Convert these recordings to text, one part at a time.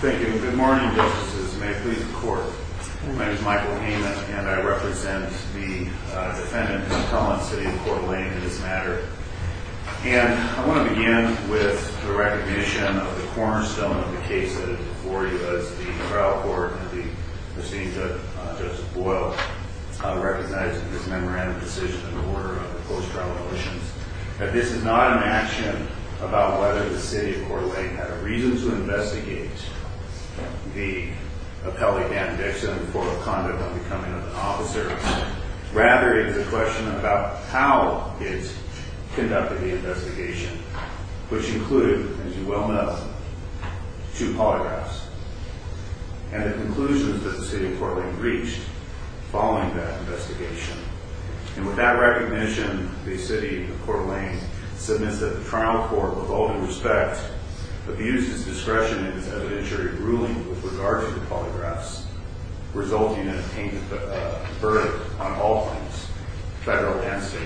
Thank you. Good morning, Justices. May it please the Court. My name is Michael Haman, and I represent the defendant, Mr. Collins, City of Coeur D'Alene in this matter. And I want to begin with the recognition of the cornerstone of the case that is before you, as the trial court and the proceeding judge, Justice Boyle, recognized in this memorandum of decision in the order of the post-trial motions, that this is not an action about whether the City of Coeur D'Alene had a reason to investigate the appellee, Dan Dixon, for conduct of becoming an officer. Rather, it is a question about how it conducted the investigation, which included, as you well know, two polygraphs, and the conclusions that the City of Coeur D'Alene reached following that investigation. And with that recognition, the City of Coeur D'Alene submits that the trial court, with all due respect, abuses discretion in its evidentiary ruling with regard to the polygraphs, resulting in a verdict on all things federal and state.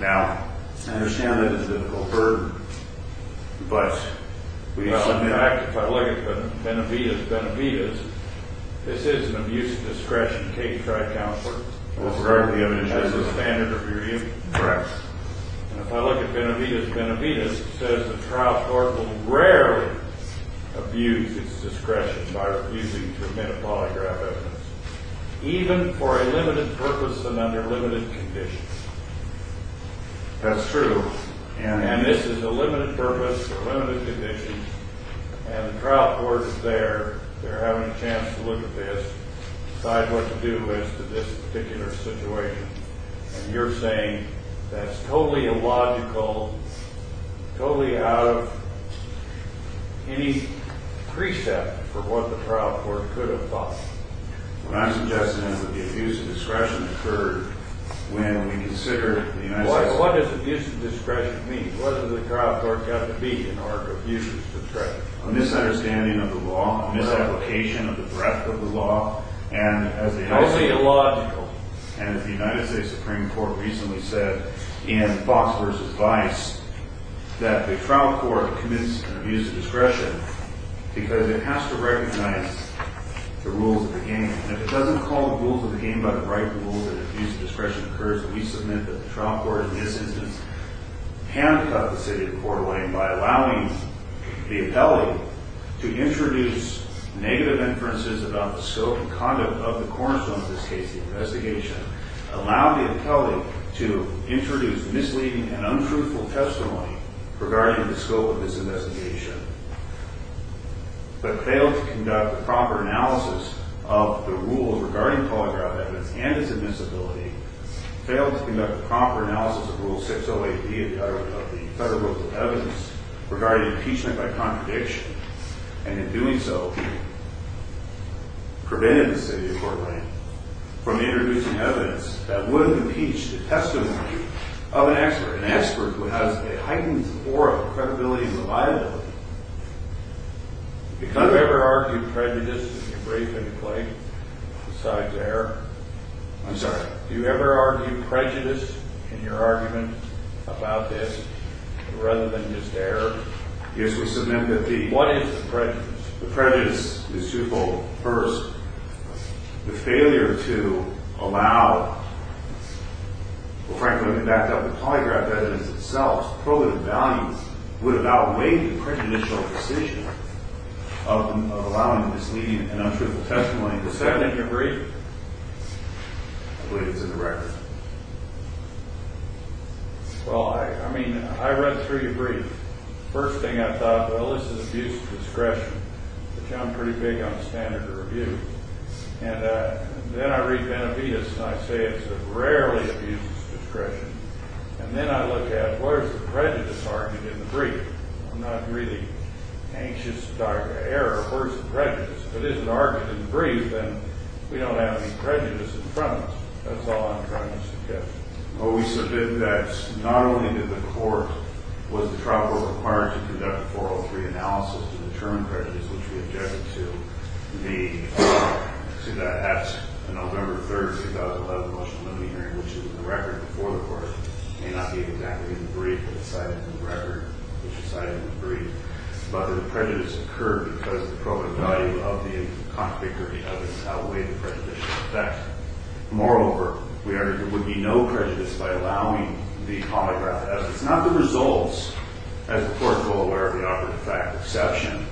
Now, I understand that this is an overburden, but we submit that. Well, in fact, if I look at Benevitas Benevitas, this is an abuse of discretion case, right, Counselor? That's correct. The evidence shows that. That's the standard of your hearing? Correct. And if I look at Benevitas Benevitas, it says the trial court will rarely abuse its discretion by refusing to admit a polygraph evidence, even for a limited purpose and under limited conditions. That's true. And this is a limited purpose or limited conditions, and the trial court is there. They're having a chance to look at this, decide what to do as to this particular situation. And you're saying that's totally illogical, totally out of any precept for what the trial court could have thought. What I'm suggesting is that the abuse of discretion occurred when we considered the United States… What does abuse of discretion mean? What does the trial court have to be in order to abuse its discretion? A misunderstanding of the law, a misapplication of the breadth of the law, and as the United States… Totally illogical. And as the United States Supreme Court recently said in Fox versus Vice, that the trial court commits an abuse of discretion because it has to recognize the rules of the game. And if it doesn't call the rules of the game by the right rules and abuse of discretion occurs, we submit that the trial court in this instance handcuffed the city of Portland by allowing the appellee to introduce negative inferences about the scope and conduct of the cornerstone of this case, the investigation, allowed the appellee to introduce misleading and untruthful testimony regarding the scope of this investigation, but failed to conduct a proper analysis of the rules regarding polygraph evidence and its admissibility, failed to conduct a proper analysis of Rule 608B of the Federal Rules of Evidence regarding impeachment by contradiction, and in doing so, prevented the city of Portland from introducing evidence that would impeach the testimony of an expert, an expert who has a heightened aura of credibility and reliability. Do you ever argue prejudice in your brief interplay besides error? I'm sorry. Do you ever argue prejudice in your argument about this rather than just error? What is the prejudice? The prejudice is twofold. First, the failure to allow, well, frankly, when we backed up the polygraph evidence itself, prohibitive values would have outweighed the prejudicial decision of allowing misleading and untruthful testimony. Is that in your brief? I believe it's in the record. Well, I mean, I read through your brief. First thing I thought, well, this is abuse of discretion. I'm pretty big on the standard of review. And then I read Benavides, and I say it's a rarely abuse of discretion. And then I look at, where's the prejudice argument in the brief? I'm not really anxious about error. Where's the prejudice? If it isn't argued in the brief, then we don't have any prejudice in front of us. That's all I'm trying to suggest. Well, we submitted that not only did the court, was the trial court required to conduct a 403 analysis to determine prejudice, which we objected to. See, that's November 3rd, 2011, the motion of the hearing, which is in the record before the court. It may not be exactly in the brief, but it's cited in the record, which is cited in the brief. But the prejudice occurred because the prohibitive value of the contradictory evidence outweighed the prejudicial effect. Moreover, there would be no prejudice by allowing the polygraph evidence, not the results, as the court is well aware of the operative fact exception,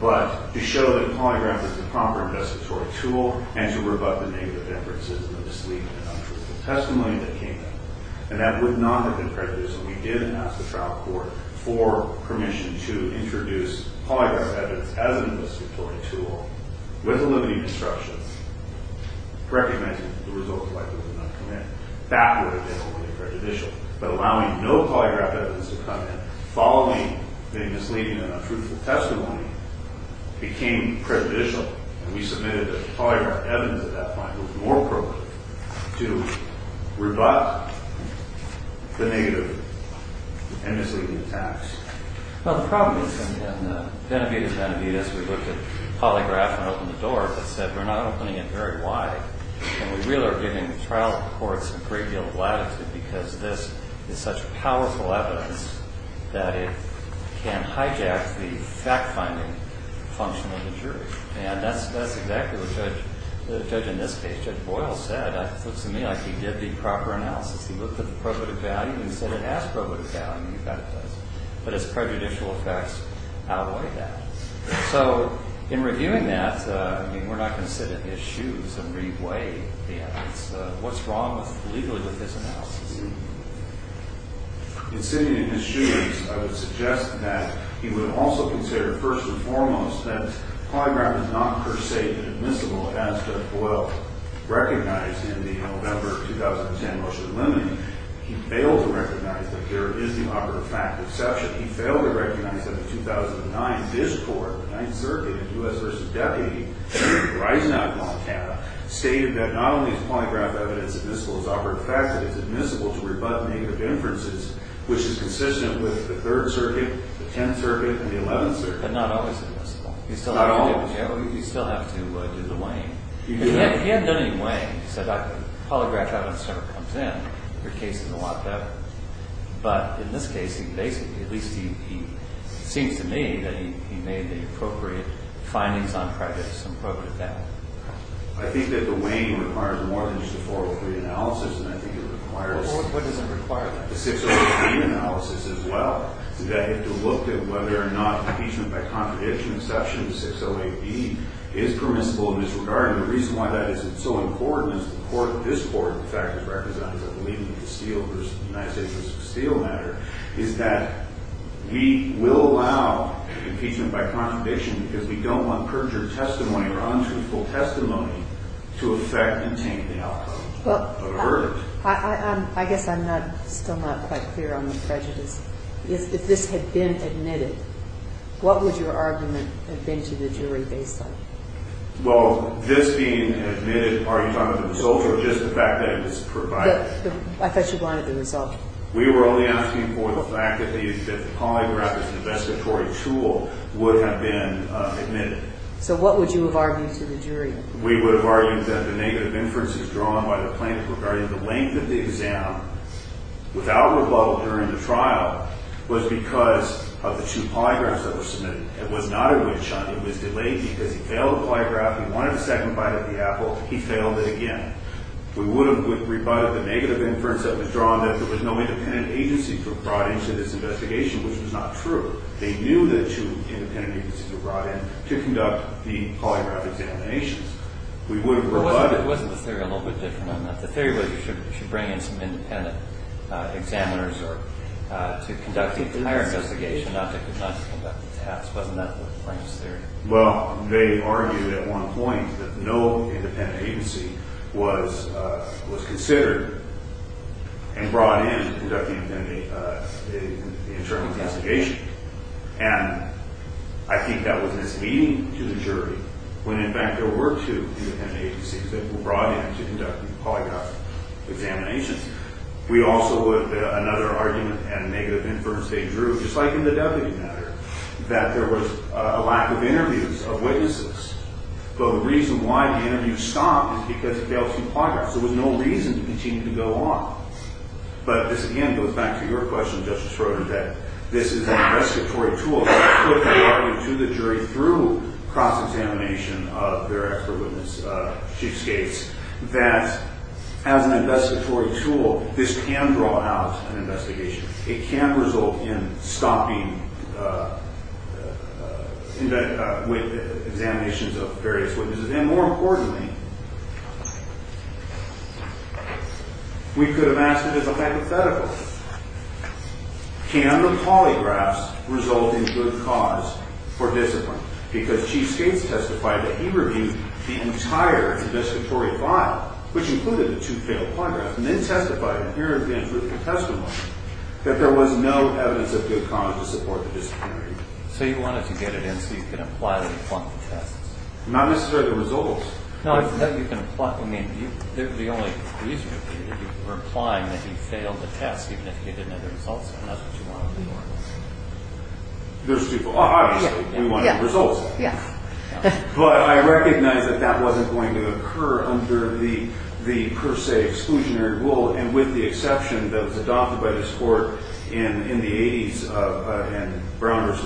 but to show that polygraph is the proper investigatory tool and to rebut the negative inferences and the misleading and untruthful testimony that came in. And that would not have been prejudiced when we did ask the trial court for permission to introduce polygraph evidence as an investigatory tool with the limiting instructions, recognizing the results likely would not come in. That would have been only prejudicial. But allowing no polygraph evidence to come in following the misleading and untruthful testimony became prejudicial. And we submitted that polygraph evidence at that time was more appropriate to rebut the negative and misleading attacks. Well, the problem is in Benavidez-Benavidez, we looked at polygraph and opened the door but said we're not opening it very wide. And we really are giving the trial courts a great deal of latitude because this is such powerful evidence that it can hijack the fact-finding function of the jury. And that's exactly what the judge in this case, Judge Boyle, said. It looks to me like he did the proper analysis. He looked at the probative value and he said it has probative value and he got it right. But his prejudicial effects outweigh that. So in reviewing that, we're not going to sit in his shoes and re-weigh the evidence. What's wrong legally with his analysis? In sitting in his shoes, I would suggest that he would also consider first and foremost that polygraph is not per se admissible as Judge Boyle recognized in the November 2010 motion limiting. He failed to recognize that there is the operative fact exception. He failed to recognize that in 2009, this court, the Ninth Circuit in U.S. v. Deputy, Dreysen out of Montana, stated that not only is polygraph evidence admissible as operative fact but it's admissible to rebut native inferences, which is consistent with the Third Circuit, the Tenth Circuit, and the Eleventh Circuit. But not always admissible. Not always. You still have to do the weighing. You do. He hadn't done any weighing. He said polygraph evidence sort of comes in. Your case is a lot better. But in this case, he basically, at least he seems to me, that he made the appropriate findings on prejudice and broke it down. I think that the weighing requires more than just a 403 analysis, and I think it requires What does it require then? The 608B analysis as well. That had to look at whether or not impeachment by contradiction exception, 608B, is permissible in this regard. And the reason why that is so important is the court, this court, in fact, is recognized as leading the Steele versus the United States v. Steele matter, is that we will allow impeachment by contradiction because we don't want perjured testimony or untruthful testimony to affect and taint the outcome of a verdict. I guess I'm still not quite clear on the prejudice. If this had been admitted, what would your argument have been to the jury based on? Well, this being admitted, are you talking about the result or just the fact that it was provided? I thought you wanted the result. We were only asking for the fact that the polygraph as an investigatory tool would have been admitted. So what would you have argued to the jury? We would have argued that the negative inferences drawn by the plaintiff regarding the length of the exam without rebuttal during the trial was because of the two polygraphs that were submitted. It was not a win-shun. It was delayed because he failed the polygraph. He wanted a second bite of the apple. He failed it again. We would have rebutted the negative inference that was drawn that there was no independent agency brought into this investigation, which was not true. They knew that two independent agencies were brought in to conduct the polygraph examinations. We would have rebutted. Well, wasn't the theory a little bit different on that? The theory was you should bring in some independent examiners to conduct the entire investigation, not to conduct the task. Wasn't that the plaintiff's theory? Well, they argued at one point that no independent agency was considered and brought in to conduct the internal investigation. And I think that was misleading to the jury when, in fact, there were two independent agencies that were brought in to conduct the polygraph examinations. We also would have had another argument and negative inference they drew, just like in the deputy matter, that there was a lack of interviews of witnesses. But the reason why the interviews stopped is because he failed to do polygraphs. There was no reason to continue to go on. But this, again, goes back to your question, Justice Rodin, that this is an investigatory tool to put the argument to the jury through cross-examination of their expert witness, Chief Skates, that as an investigatory tool, this can draw out an investigation. It can result in stopping examinations of various witnesses. And more importantly, we could have asked it as a hypothetical. Can the polygraphs result in good cause for discipline? Because Chief Skates testified that he reviewed the entire investigatory file, which included the two failed polygraphs, and then testified in peer-reviewed and critical testimony that there was no evidence of good cause to support the discipline review. So you wanted to get it in so you could apply it and pluck the tests? Not necessarily the results. No, that you can pluck. I mean, the only reason would be that you were applying that he failed the test, even if he didn't have the results, and that's what you wanted to do. Obviously, we wanted the results. Yes. But I recognize that that wasn't going to occur under the per se exclusionary rule, and with the exception that was adopted by this Court in the 80s, in Brown v.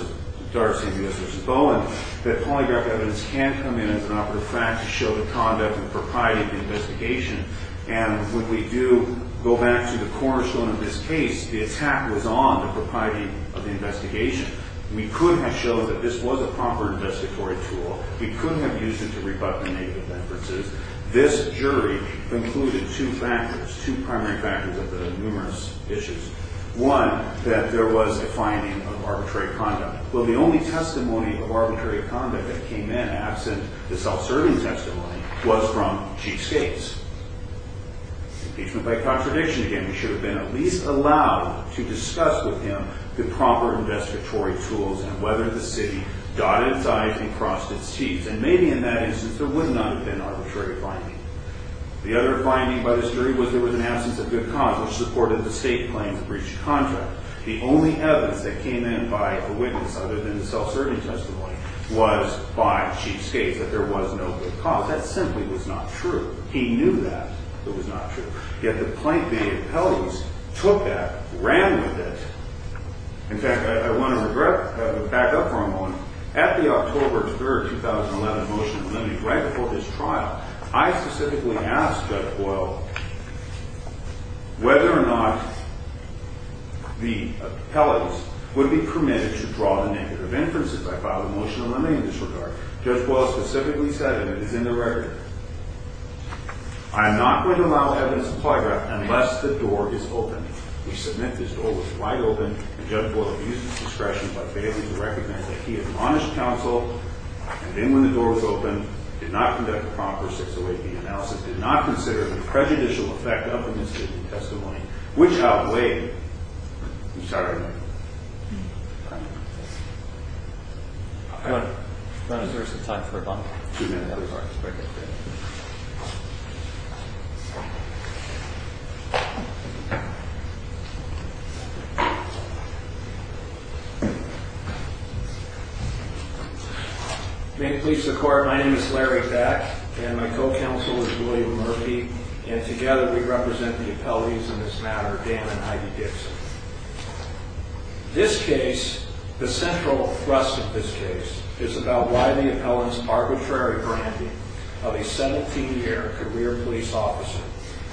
Darcy and U.S. v. Bowen, that polygraph evidence can come in as an operative fact to show the conduct and propriety of the investigation. And when we do go back to the cornerstone of this case, the attack was on the propriety of the investigation. We could have shown that this was a proper investigatory tool. We could have used it to rebut the negative inferences. This jury concluded two factors, two primary factors of the numerous issues. One, that there was a finding of arbitrary conduct. Well, the only testimony of arbitrary conduct that came in, absent the self-serving testimony, was from Chief Skates. Impeachment by contradiction, again. We should have been at least allowed to discuss with him the proper investigatory tools and whether the city dotted its I's and crossed its T's. And maybe in that instance there would not have been arbitrary finding. The other finding by this jury was there was an absence of good cause, which supported the state claims of breach of contract. The only evidence that came in by a witness, other than the self-serving testimony, was by Chief Skates, that there was no good cause. That simply was not true. He knew that it was not true. Yet the plaintiff, the appellees, took that, ran with it. In fact, I want to back up for a moment. At the October 3, 2011, motion to limit, right before this trial, I specifically asked Judge Boyle whether or not the appellees would be permitted to draw the negative inferences. I filed a motion to limit in this regard. Judge Boyle specifically said, and it is in the record, I am not going to allow evidence in polygraph unless the door is opened. We submit this door was wide open, and Judge Boyle abused his discretion by failing to recognize that he had admonished counsel, and then when the door was opened, did not conduct a proper 608B analysis, did not consider the prejudicial effect of the misdemeanor testimony, which outweighed the charge of negligence. All right. I'm going to reserve some time for a moment. Two minutes. May it please the Court, my name is Larry Pack, and my co-counsel is William Murphy, and together we represent the appellees in this matter, Dan and Heidi Dixon. This case, the central thrust of this case, is about why the appellant's arbitrary branding of a 17-year career police officer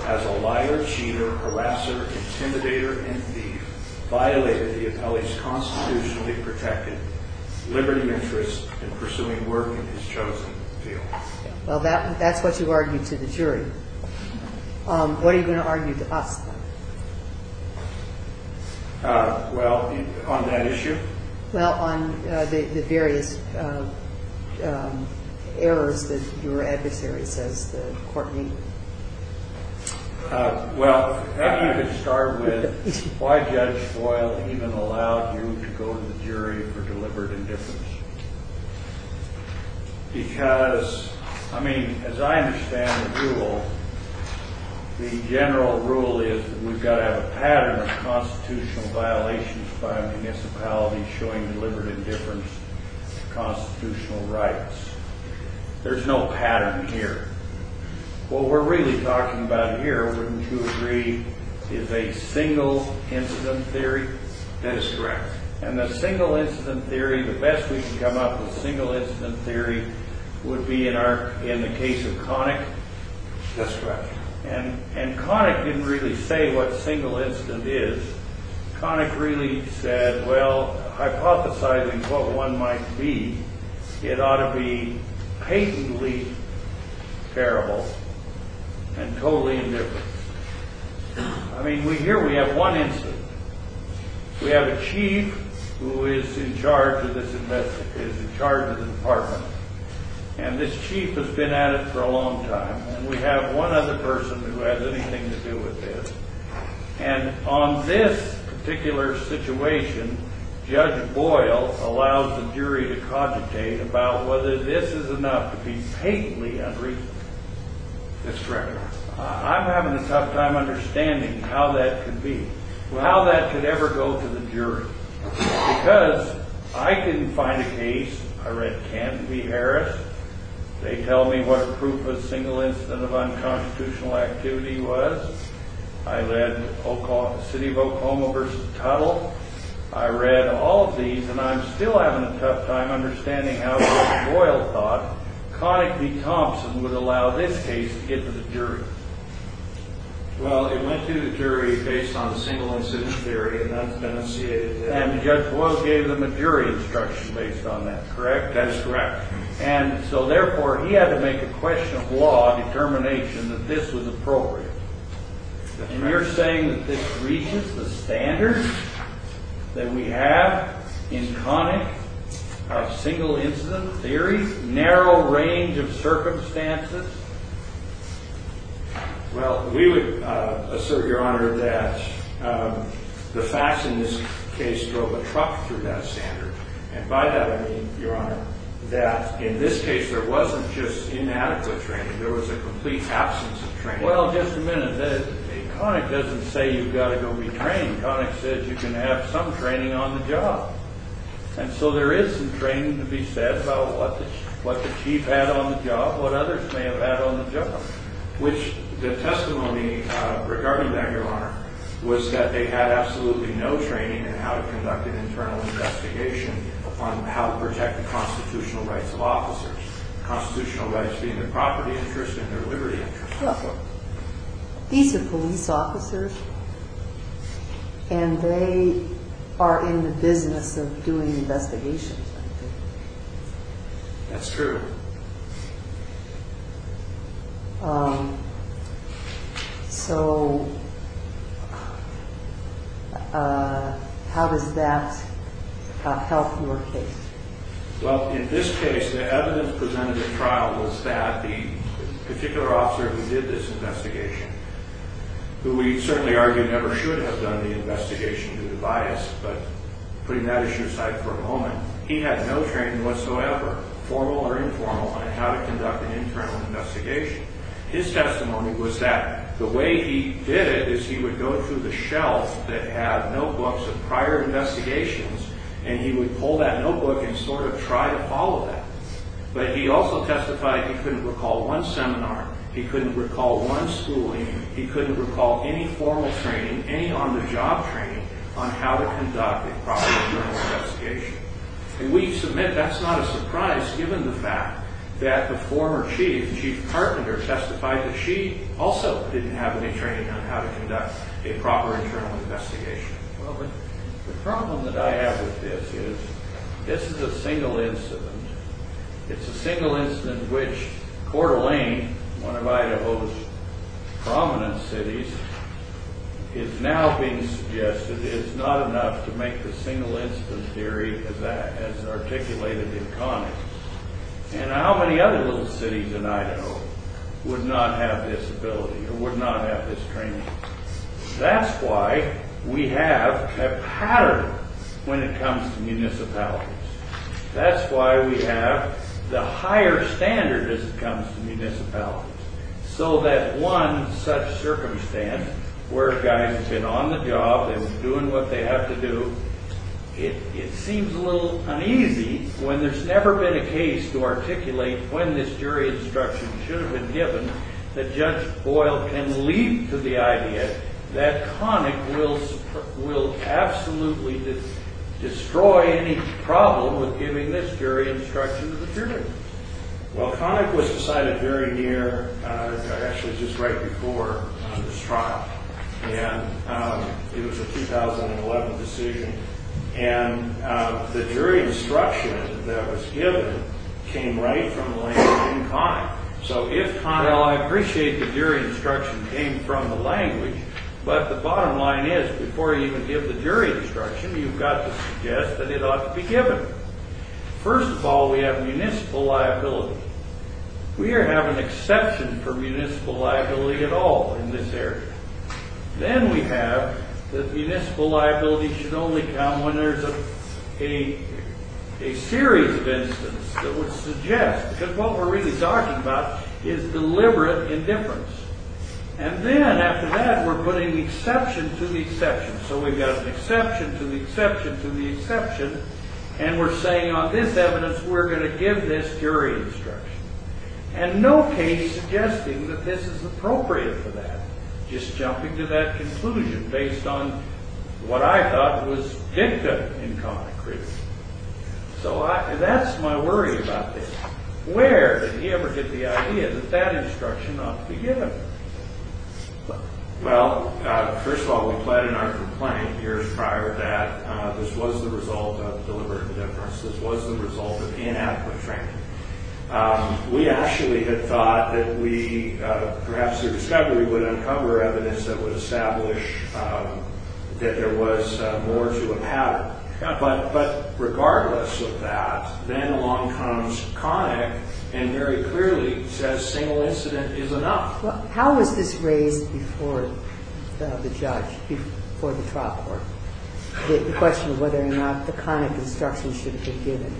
as a liar, cheater, harasser, intimidator, and thief violated the appellee's constitutionally protected liberty interest in pursuing work in his chosen field. Well, that's what you argue to the jury. What are you going to argue to us? Well, on that issue? Well, on the various errors that your adversary says the Court made. Well, maybe you could start with why Judge Boyle even allowed you to go to the jury for deliberate indifference. Because, I mean, as I understand the rule, the general rule is that we've got to have a pattern of constitutional violations by a municipality showing deliberate indifference to constitutional rights. There's no pattern here. What we're really talking about here, wouldn't you agree, is a single incident theory? That is correct. And the single incident theory, the best we can come up with single incident theory, would be in the case of Connick? That's correct. And Connick didn't really say what single incident is. Connick really said, well, hypothesizing what one might be, it ought to be patently terrible and totally indifference. I mean, here we have one incident. We have a chief who is in charge of this department. And this chief has been at it for a long time. And we have one other person who has anything to do with this. And on this particular situation, Judge Boyle allows the jury to cogitate about whether this is enough to be patently unreasonable. That's correct. I'm having a tough time understanding how that could be. How that could ever go to the jury. Because I didn't find a case. I read Canton v. Harris. They tell me what proof a single incident of unconstitutional activity was. I read City of Oklahoma v. Tuttle. I read all of these, and I'm still having a tough time understanding how Judge Boyle thought Connick v. Thompson would allow this case to get to the jury. Well, it went to the jury based on a single incident theory, and that's been associated with it. And Judge Boyle gave them a jury instruction based on that, correct? That is correct. And so, therefore, he had to make a question of law determination that this was appropriate. And you're saying that this reaches the standards that we have in Connick of single incident theory, narrow range of circumstances? Well, we would assert, Your Honor, that the facts in this case drove a truck through that standard. And by that I mean, Your Honor, that in this case there wasn't just inadequate training. There was a complete absence of training. Well, just a minute. Connick doesn't say you've got to go be trained. Connick says you can have some training on the job. And so there is some training to be said about what the chief had on the job, what others may have had on the job, which the testimony regarding that, Your Honor, was that they had absolutely no training in how to conduct an internal investigation on how to protect the constitutional rights of officers, constitutional rights being their property interest and their liberty interest. These are police officers, and they are in the business of doing investigations, I think. That's true. So how does that help your case? Well, in this case, the evidence presented at trial was that the particular officer who did this investigation, who we certainly argue never should have done the investigation due to bias, but putting that issue aside for a moment, he had no training whatsoever, formal or informal, on how to conduct an internal investigation. His testimony was that the way he did it is he would go through the shelf that had notebooks of prior investigations, and he would pull that notebook and sort of try to follow that. But he also testified he couldn't recall one seminar, he couldn't recall one schooling, he couldn't recall any formal training, any on-the-job training on how to conduct a proper internal investigation. And we submit that's not a surprise given the fact that the former chief, Chief Carpenter, testified that she also didn't have any training on how to conduct a proper internal investigation. Well, the problem that I have with this is this is a single incident. It's a single incident which Coeur d'Alene, one of Idaho's prominent cities, is now being suggested is not enough to make the single incident theory as articulated in Connick. And how many other little cities in Idaho would not have this ability or would not have this training? That's why we have a pattern when it comes to municipalities. That's why we have the higher standard as it comes to municipalities. So that one such circumstance where guys have been on the job and doing what they have to do, it seems a little uneasy when there's never been a case to articulate when this jury instruction should have been given that Judge Boyle can leap to the idea that Connick will absolutely destroy any problem with giving this jury instruction to the jury. Well, Connick was decided very near, actually just right before this trial. And it was a 2011 decision. And the jury instruction that was given came right from Lane and Connick. So if Connell, I appreciate the jury instruction came from the language, but the bottom line is before you even give the jury instruction, you've got to suggest that it ought to be given. First of all, we have municipal liability. We don't have an exception for municipal liability at all in this area. Then we have that municipal liability should only come when there's a series of incidents that would suggest, because what we're really talking about is deliberate indifference. And then after that, we're putting the exception to the exception. So we've got an exception to the exception to the exception. And we're saying on this evidence, we're going to give this jury instruction. And no case suggesting that this is appropriate for that. Just jumping to that conclusion based on what I thought was dicta in Connick. So that's my worry about this. Where did he ever get the idea that that instruction ought to be given? Well, first of all, we pled in our complaint years prior that this was the result of deliberate indifference. This was the result of inadequate training. We actually had thought that we, perhaps through discovery, would uncover evidence that would establish that there was more to a pattern. But regardless of that, then along comes Connick and very clearly says single incident is enough. How was this raised before the judge, before the trial court? The question of whether or not the Connick instruction should have been given.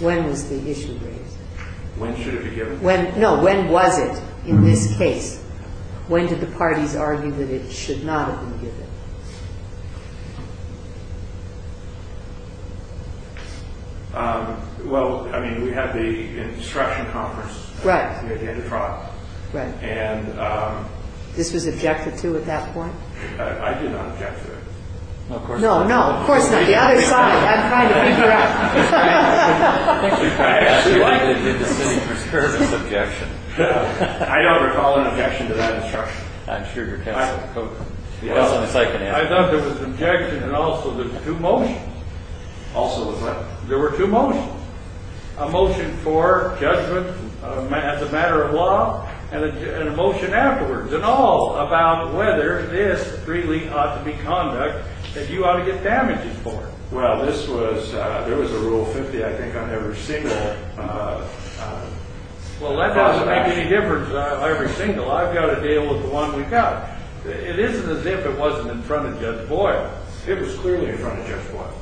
When was the issue raised? When should it be given? No, when was it in this case? When did the parties argue that it should not have been given? Well, I mean, we had the instruction conference. Right. At the end of trial. Right. And this was objected to at that point? I did not object to it. No, of course not. No, no. Of course not. The other side. I'm trying to figure out. I actually did the indisputable objection. I don't recall an objection to that instruction. I'm sure your counsel could. I thought there was an objection and also there were two motions. Also what? There were two motions. A motion for judgment as a matter of law and a motion afterwards. And all about whether this really ought to be conduct that you ought to get damages for. Well, this was, there was a Rule 50, I think, on every single. Well, that doesn't make any difference on every single. I've got to deal with the one we've got. It isn't as if it wasn't in front of Judge Boyle. It was clearly in front of Judge Boyle.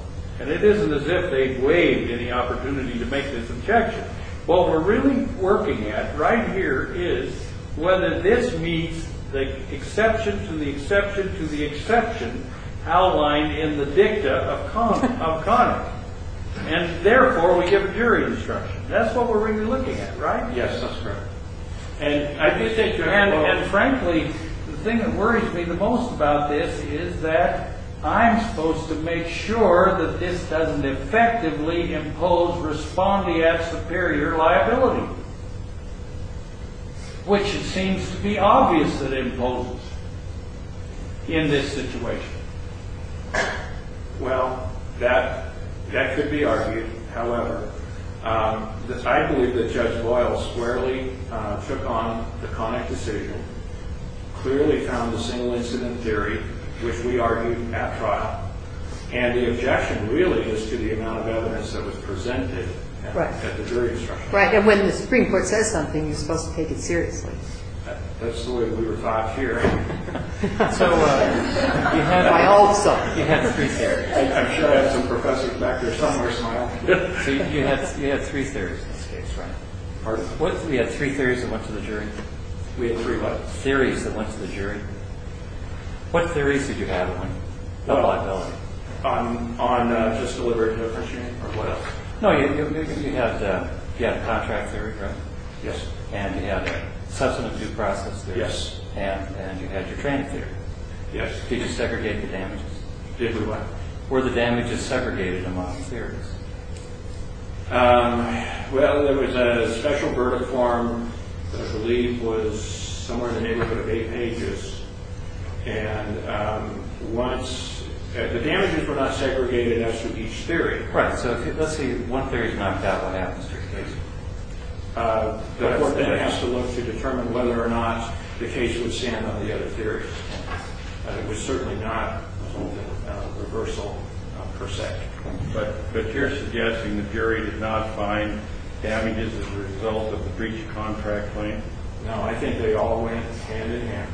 And it isn't as if they waived any opportunity to make this objection. What we're really working at right here is whether this meets the exception to the exception to the exception outlined in the dicta of Conner. And, therefore, we give a jury instruction. That's what we're really looking at, right? Yes, that's correct. And, frankly, the thing that worries me the most about this is that I'm supposed to make sure that this doesn't effectively impose respondeat superior liability, which it seems to be obvious that it imposes in this situation. Well, that could be argued. However, I believe that Judge Boyle squarely took on the Connick decision, clearly found the single-incident jury, which we argued at trial. And the objection really is to the amount of evidence that was presented at the jury instruction. Right. And when the Supreme Court says something, you're supposed to take it seriously. That's the way we were taught here. So you had my all of something you had to prepare. I'm sure I had some professors back there telling me to smile. So you had three theories in this case, right? Pardon? You had three theories that went to the jury? We had three what? Theories that went to the jury. What theories did you have on? No liability. On just deliberate infringement or what else? No, you had contract theory, right? Yes. And you had substantive due process theory. Yes. And you had your training theory. Yes. Did you segregate the damages? Did we what? Were the damages segregated among the theories? Well, there was a special verdict form that I believe was somewhere in the neighborhood of eight pages. And the damages were not segregated as to each theory. Right. So let's say one theory is knocked out, what happens to your case? The court then has to look to determine whether or not the case would stand on the other theories. It was certainly not a reversal per se. But you're suggesting the jury did not find damages as a result of the breach of contract claim? No, I think they all went hand in hand.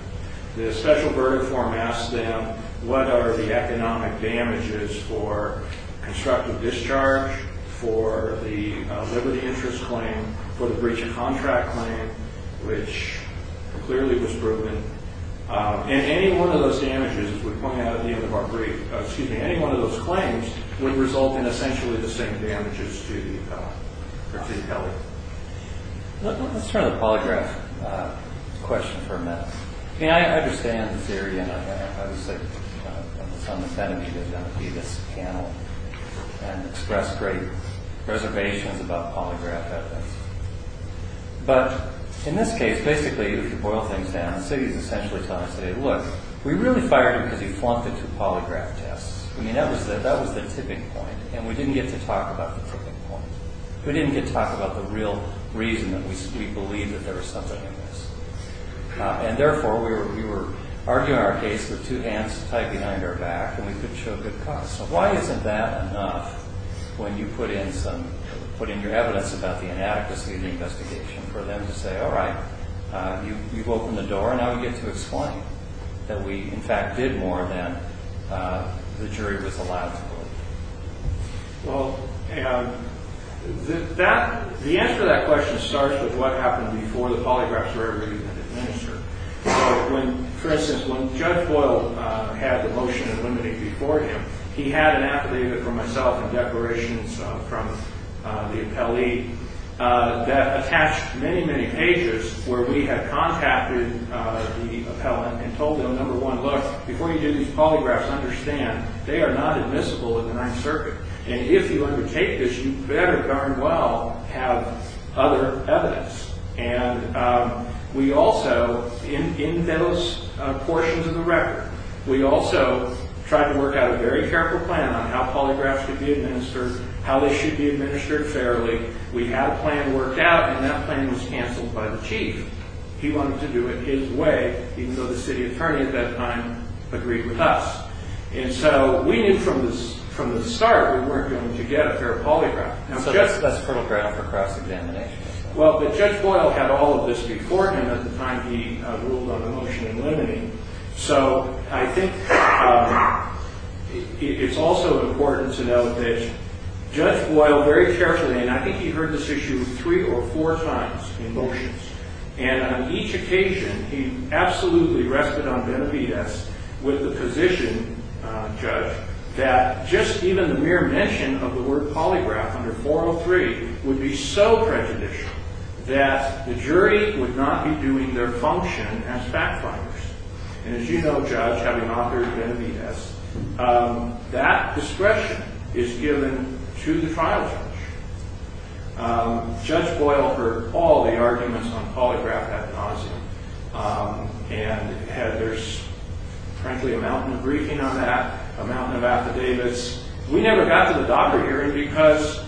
The special verdict form asks them what are the economic damages for constructive discharge, for the liberty interest claim, for the breach of contract claim, which clearly was proven. And any one of those damages, as we pointed out at the end of our brief, excuse me, any one of those claims would result in essentially the same damages to the plaintiff, Kelly. Let's turn to the polygraph question for a minute. I mean, I understand the theory. And obviously, I'm the son of Kennedy. There's going to be this panel. And express great reservations about polygraph evidence. But in this case, basically, if you boil things down, the city is essentially telling us, look, we really fired him because he flunked the two polygraph tests. I mean, that was the tipping point. And we didn't get to talk about the tipping point. We didn't get to talk about the real reason that we believe that there was something amiss. And therefore, we were arguing our case with two hands tied behind our back, and we couldn't show a good cause. So why isn't that enough when you put in your evidence about the inadequacy of the investigation for them to say, all right, you've opened the door, and now we get to explain that we, in fact, did more than the jury was allowed to believe? Well, the answer to that question starts with what happened before the polygraphs were ever even administered. For instance, when Judge Boyle had the motion eliminated before him, he had an affidavit from myself and declarations from the appellee that attached many, many pages where we had contacted the appellant and told them, number one, look, before you do these polygraphs, understand they are not admissible in the Ninth Circuit. And if you undertake this, you better darn well have other evidence. And we also, in those portions of the record, we also tried to work out a very careful plan on how polygraphs could be administered, how they should be administered fairly. We had a plan worked out, and that plan was canceled by the chief. He wanted to do it his way, even though the city attorney at that time agreed with us. And so we knew from the start we weren't going to get a fair polygraph. So that's a photograph for cross-examination? Well, but Judge Boyle had all of this before him at the time he ruled on the motion eliminating. So I think it's also important to note that Judge Boyle very carefully, and I think he heard this issue three or four times in motions, and on each occasion he absolutely rested on Benavides with the position, Judge, that just even the mere mention of the word polygraph under 403 would be so prejudicial that the jury would not be doing their function as fact-finders. And as you know, Judge, having authored Benavides, that discretion is given to the trial judge. Judge Boyle heard all the arguments on polygraph ad nauseum, and there's frankly a mountain of briefing on that, a mountain of affidavits. We never got to the DACA hearing because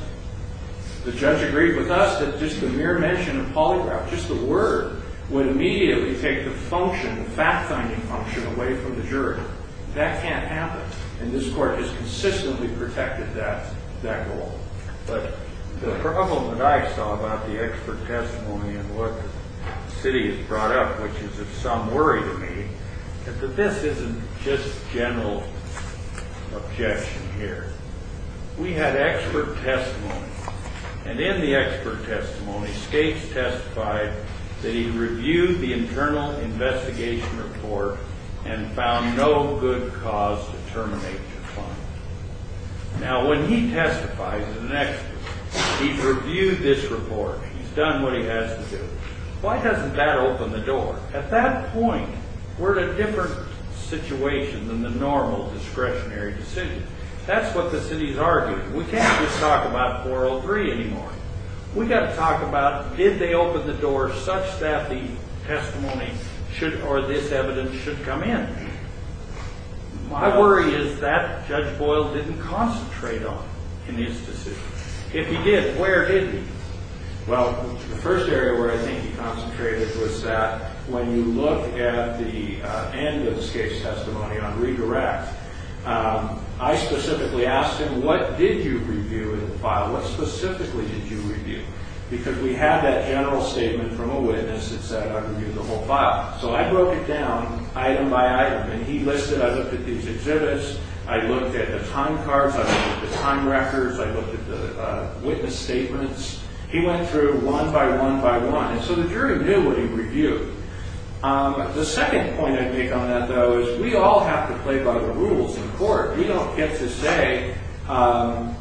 the judge agreed with us that just the mere mention of polygraph, just the word, would immediately take the function, the fact-finding function, away from the jury. That can't happen, and this court has consistently protected that goal. But the problem that I saw about the expert testimony and what the city has brought up, which is of some worry to me, is that this isn't just general objection here. We had expert testimony, and in the expert testimony, States testified that he reviewed the internal investigation report and found no good cause to terminate the claim. Now, when he testifies as an expert, he's reviewed this report, he's done what he has to do. Why doesn't that open the door? At that point, we're in a different situation than the normal discretionary decision. That's what the city's arguing. We can't just talk about 403 anymore. We've got to talk about did they open the door such that the testimony or this evidence should come in. My worry is that Judge Boyle didn't concentrate on it in his decision. If he did, where did he? Well, the first area where I think he concentrated was that when you look at the end of this case testimony on redirect, I specifically asked him, what did you review in the file? What specifically did you review? Because we had that general statement from a witness that said I reviewed the whole file. So I broke it down item by item. And he listed, I looked at these exhibits, I looked at the time cards, I looked at the time records, I looked at the witness statements. He went through one by one by one. And so the jury knew what he reviewed. The second point I'd make on that, though, is we all have to play by the rules in court. We don't get to say I'm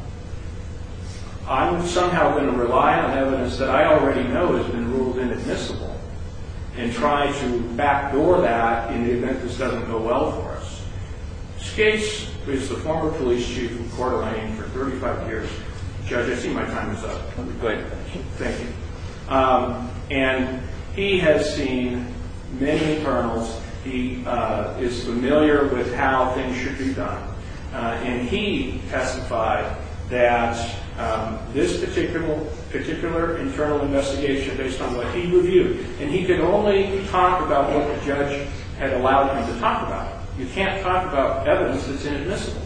somehow going to rely on evidence that I already know has been ruled inadmissible and try to backdoor that in the event this doesn't go well for us. Skates, who is the former police chief of Coeur d'Alene for 35 years, Judge, I see my time is up. Thank you. And he has seen many internals. He is familiar with how things should be done. And he testified that this particular internal investigation based on what he reviewed, and he could only talk about what the judge had allowed him to talk about. You can't talk about evidence that's inadmissible.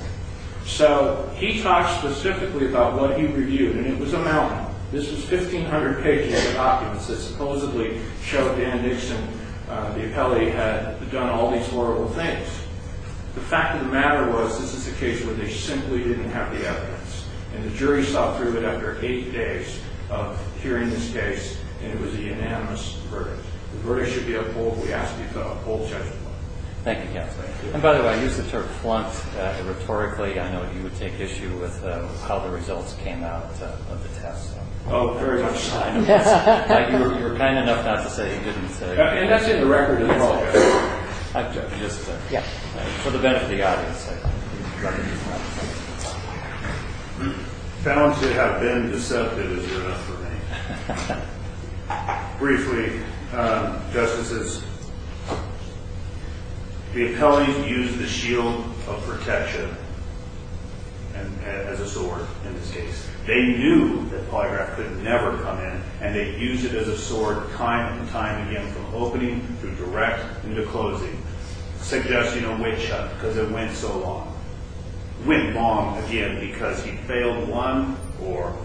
So he talked specifically about what he reviewed, and it was a mountain. This was 1,500 pages of documents that supposedly showed Dan Nixon, the appellee, had done all these horrible things. The fact of the matter was this is a case where they simply didn't have the evidence. And the jury saw through it after eight days of hearing this case, and it was a unanimous verdict. The verdict should be uphold. We ask that you uphold, Judge. Thank you, Counselor. And by the way, I used the term flunked rhetorically. I know you would take issue with how the results came out of the test. Oh, very much so. You were kind enough not to say you didn't say. And that's in the record as well. Just for the benefit of the audience. Found to have been deceptive is good enough for me. Briefly, Justices, the appellees used the shield of protection as a sword in this case. They knew that polygraph could never come in, and they used it as a sword time and time again from opening to direct into closing, suggesting a witch hunt because it went so long. Went wrong again because he failed one or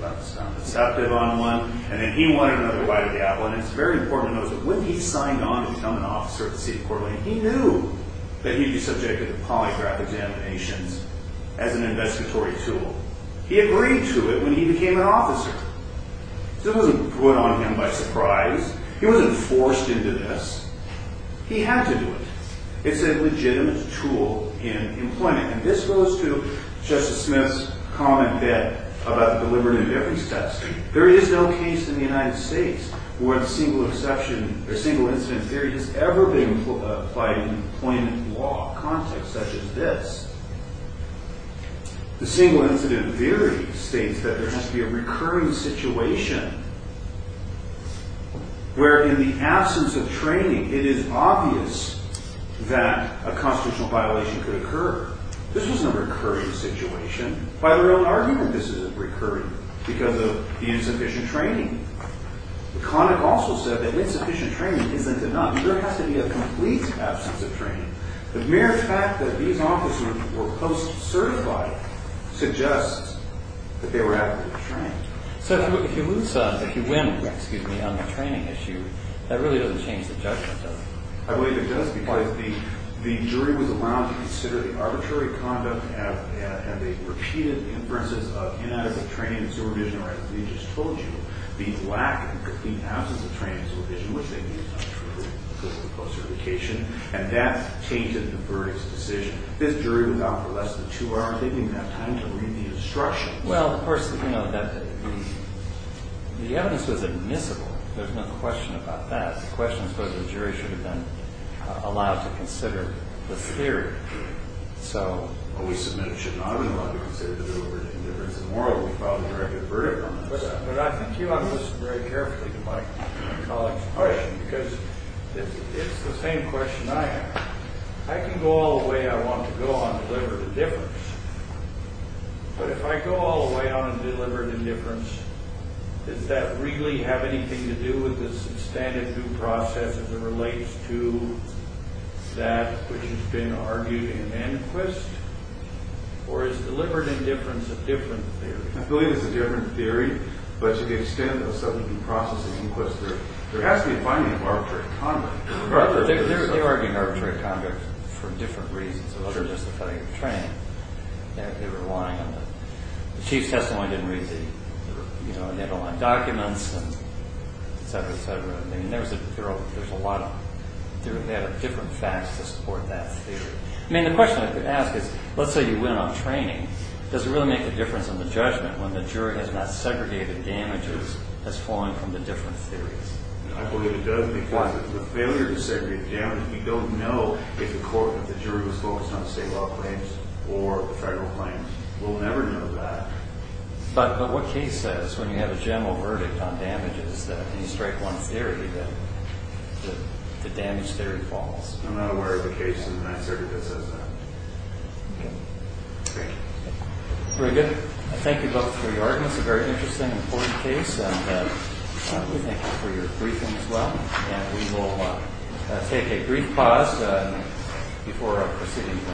was not deceptive on one, and then he wanted another right of the appellant. It's very important to know that when he signed on to become an officer at the city court, he knew that he'd be subjected to polygraph examinations as an investigatory tool. He agreed to it when he became an officer. So it wasn't put on him by surprise. He wasn't forced into this. He had to do it. It's a legitimate tool in employment, and this goes to Justice Smith's comment that about the deliberative evidence testing. There is no case in the United States where single exception or single incident theory has ever been applied in employment law context such as this. The single incident theory states that there has to be a recurring situation where in the absence of training, it is obvious that a constitutional violation could occur. This wasn't a recurring situation. By their own argument, this is recurring because of the insufficient training. The comic also said that insufficient training isn't enough. There has to be a complete absence of training. The mere fact that these officers were post-certified suggests that they were adequately trained. So if you win on the training issue, that really doesn't change the judgment, does it? I believe it does because the jury was allowed to consider the arbitrary conduct and the repeated inferences of inadequate training and supervision, or as we just told you, the lack and complete absence of training and supervision, which they knew was not true because of the post-certification, and that tainted the verdict's decision. This jury was out for less than two hours, taking that time to read the instructions. Well, of course, you know, the evidence was admissible. There's no question about that. The question is whether the jury should have been allowed to consider this theory. Well, we submitted it should not have been allowed to consider the deliberate indifference. And moreover, we filed a directed verdict on this. But I think you ought to listen very carefully to my colleague's question because it's the same question I have. I can go all the way I want to go on deliberate indifference, but if I go all the way on deliberate indifference, does that really have anything to do with the substantive due process as it relates to that which has been argued in Manquist, or is deliberate indifference a different theory? I believe it's a different theory. But to the extent of substantive due process in Manquist, there has to be a finding of arbitrary conduct. Right, but they argue arbitrary conduct for different reasons. It wasn't just the failure of training. They were relying on the chief's testimony didn't read the, you know, and they had to rely on documents and et cetera, et cetera. I mean, there's a lot of different facts to support that theory. I mean, the question I could ask is, let's say you win on training. Does it really make a difference on the judgment when the jury has not segregated damages as falling from the different theories? I believe it does because the failure to segregate damage, we don't know if the jury was focused on the state law claims or the federal claims. We'll never know that. But what case says when you have a general verdict on damages that you strike one theory that the damage theory falls? I'm not aware of a case in that circuit that says that. Thank you. Very good. Thank you both for your arguments. A very interesting and important case. And we thank you for your briefing as well. And we will take a brief pause before proceeding.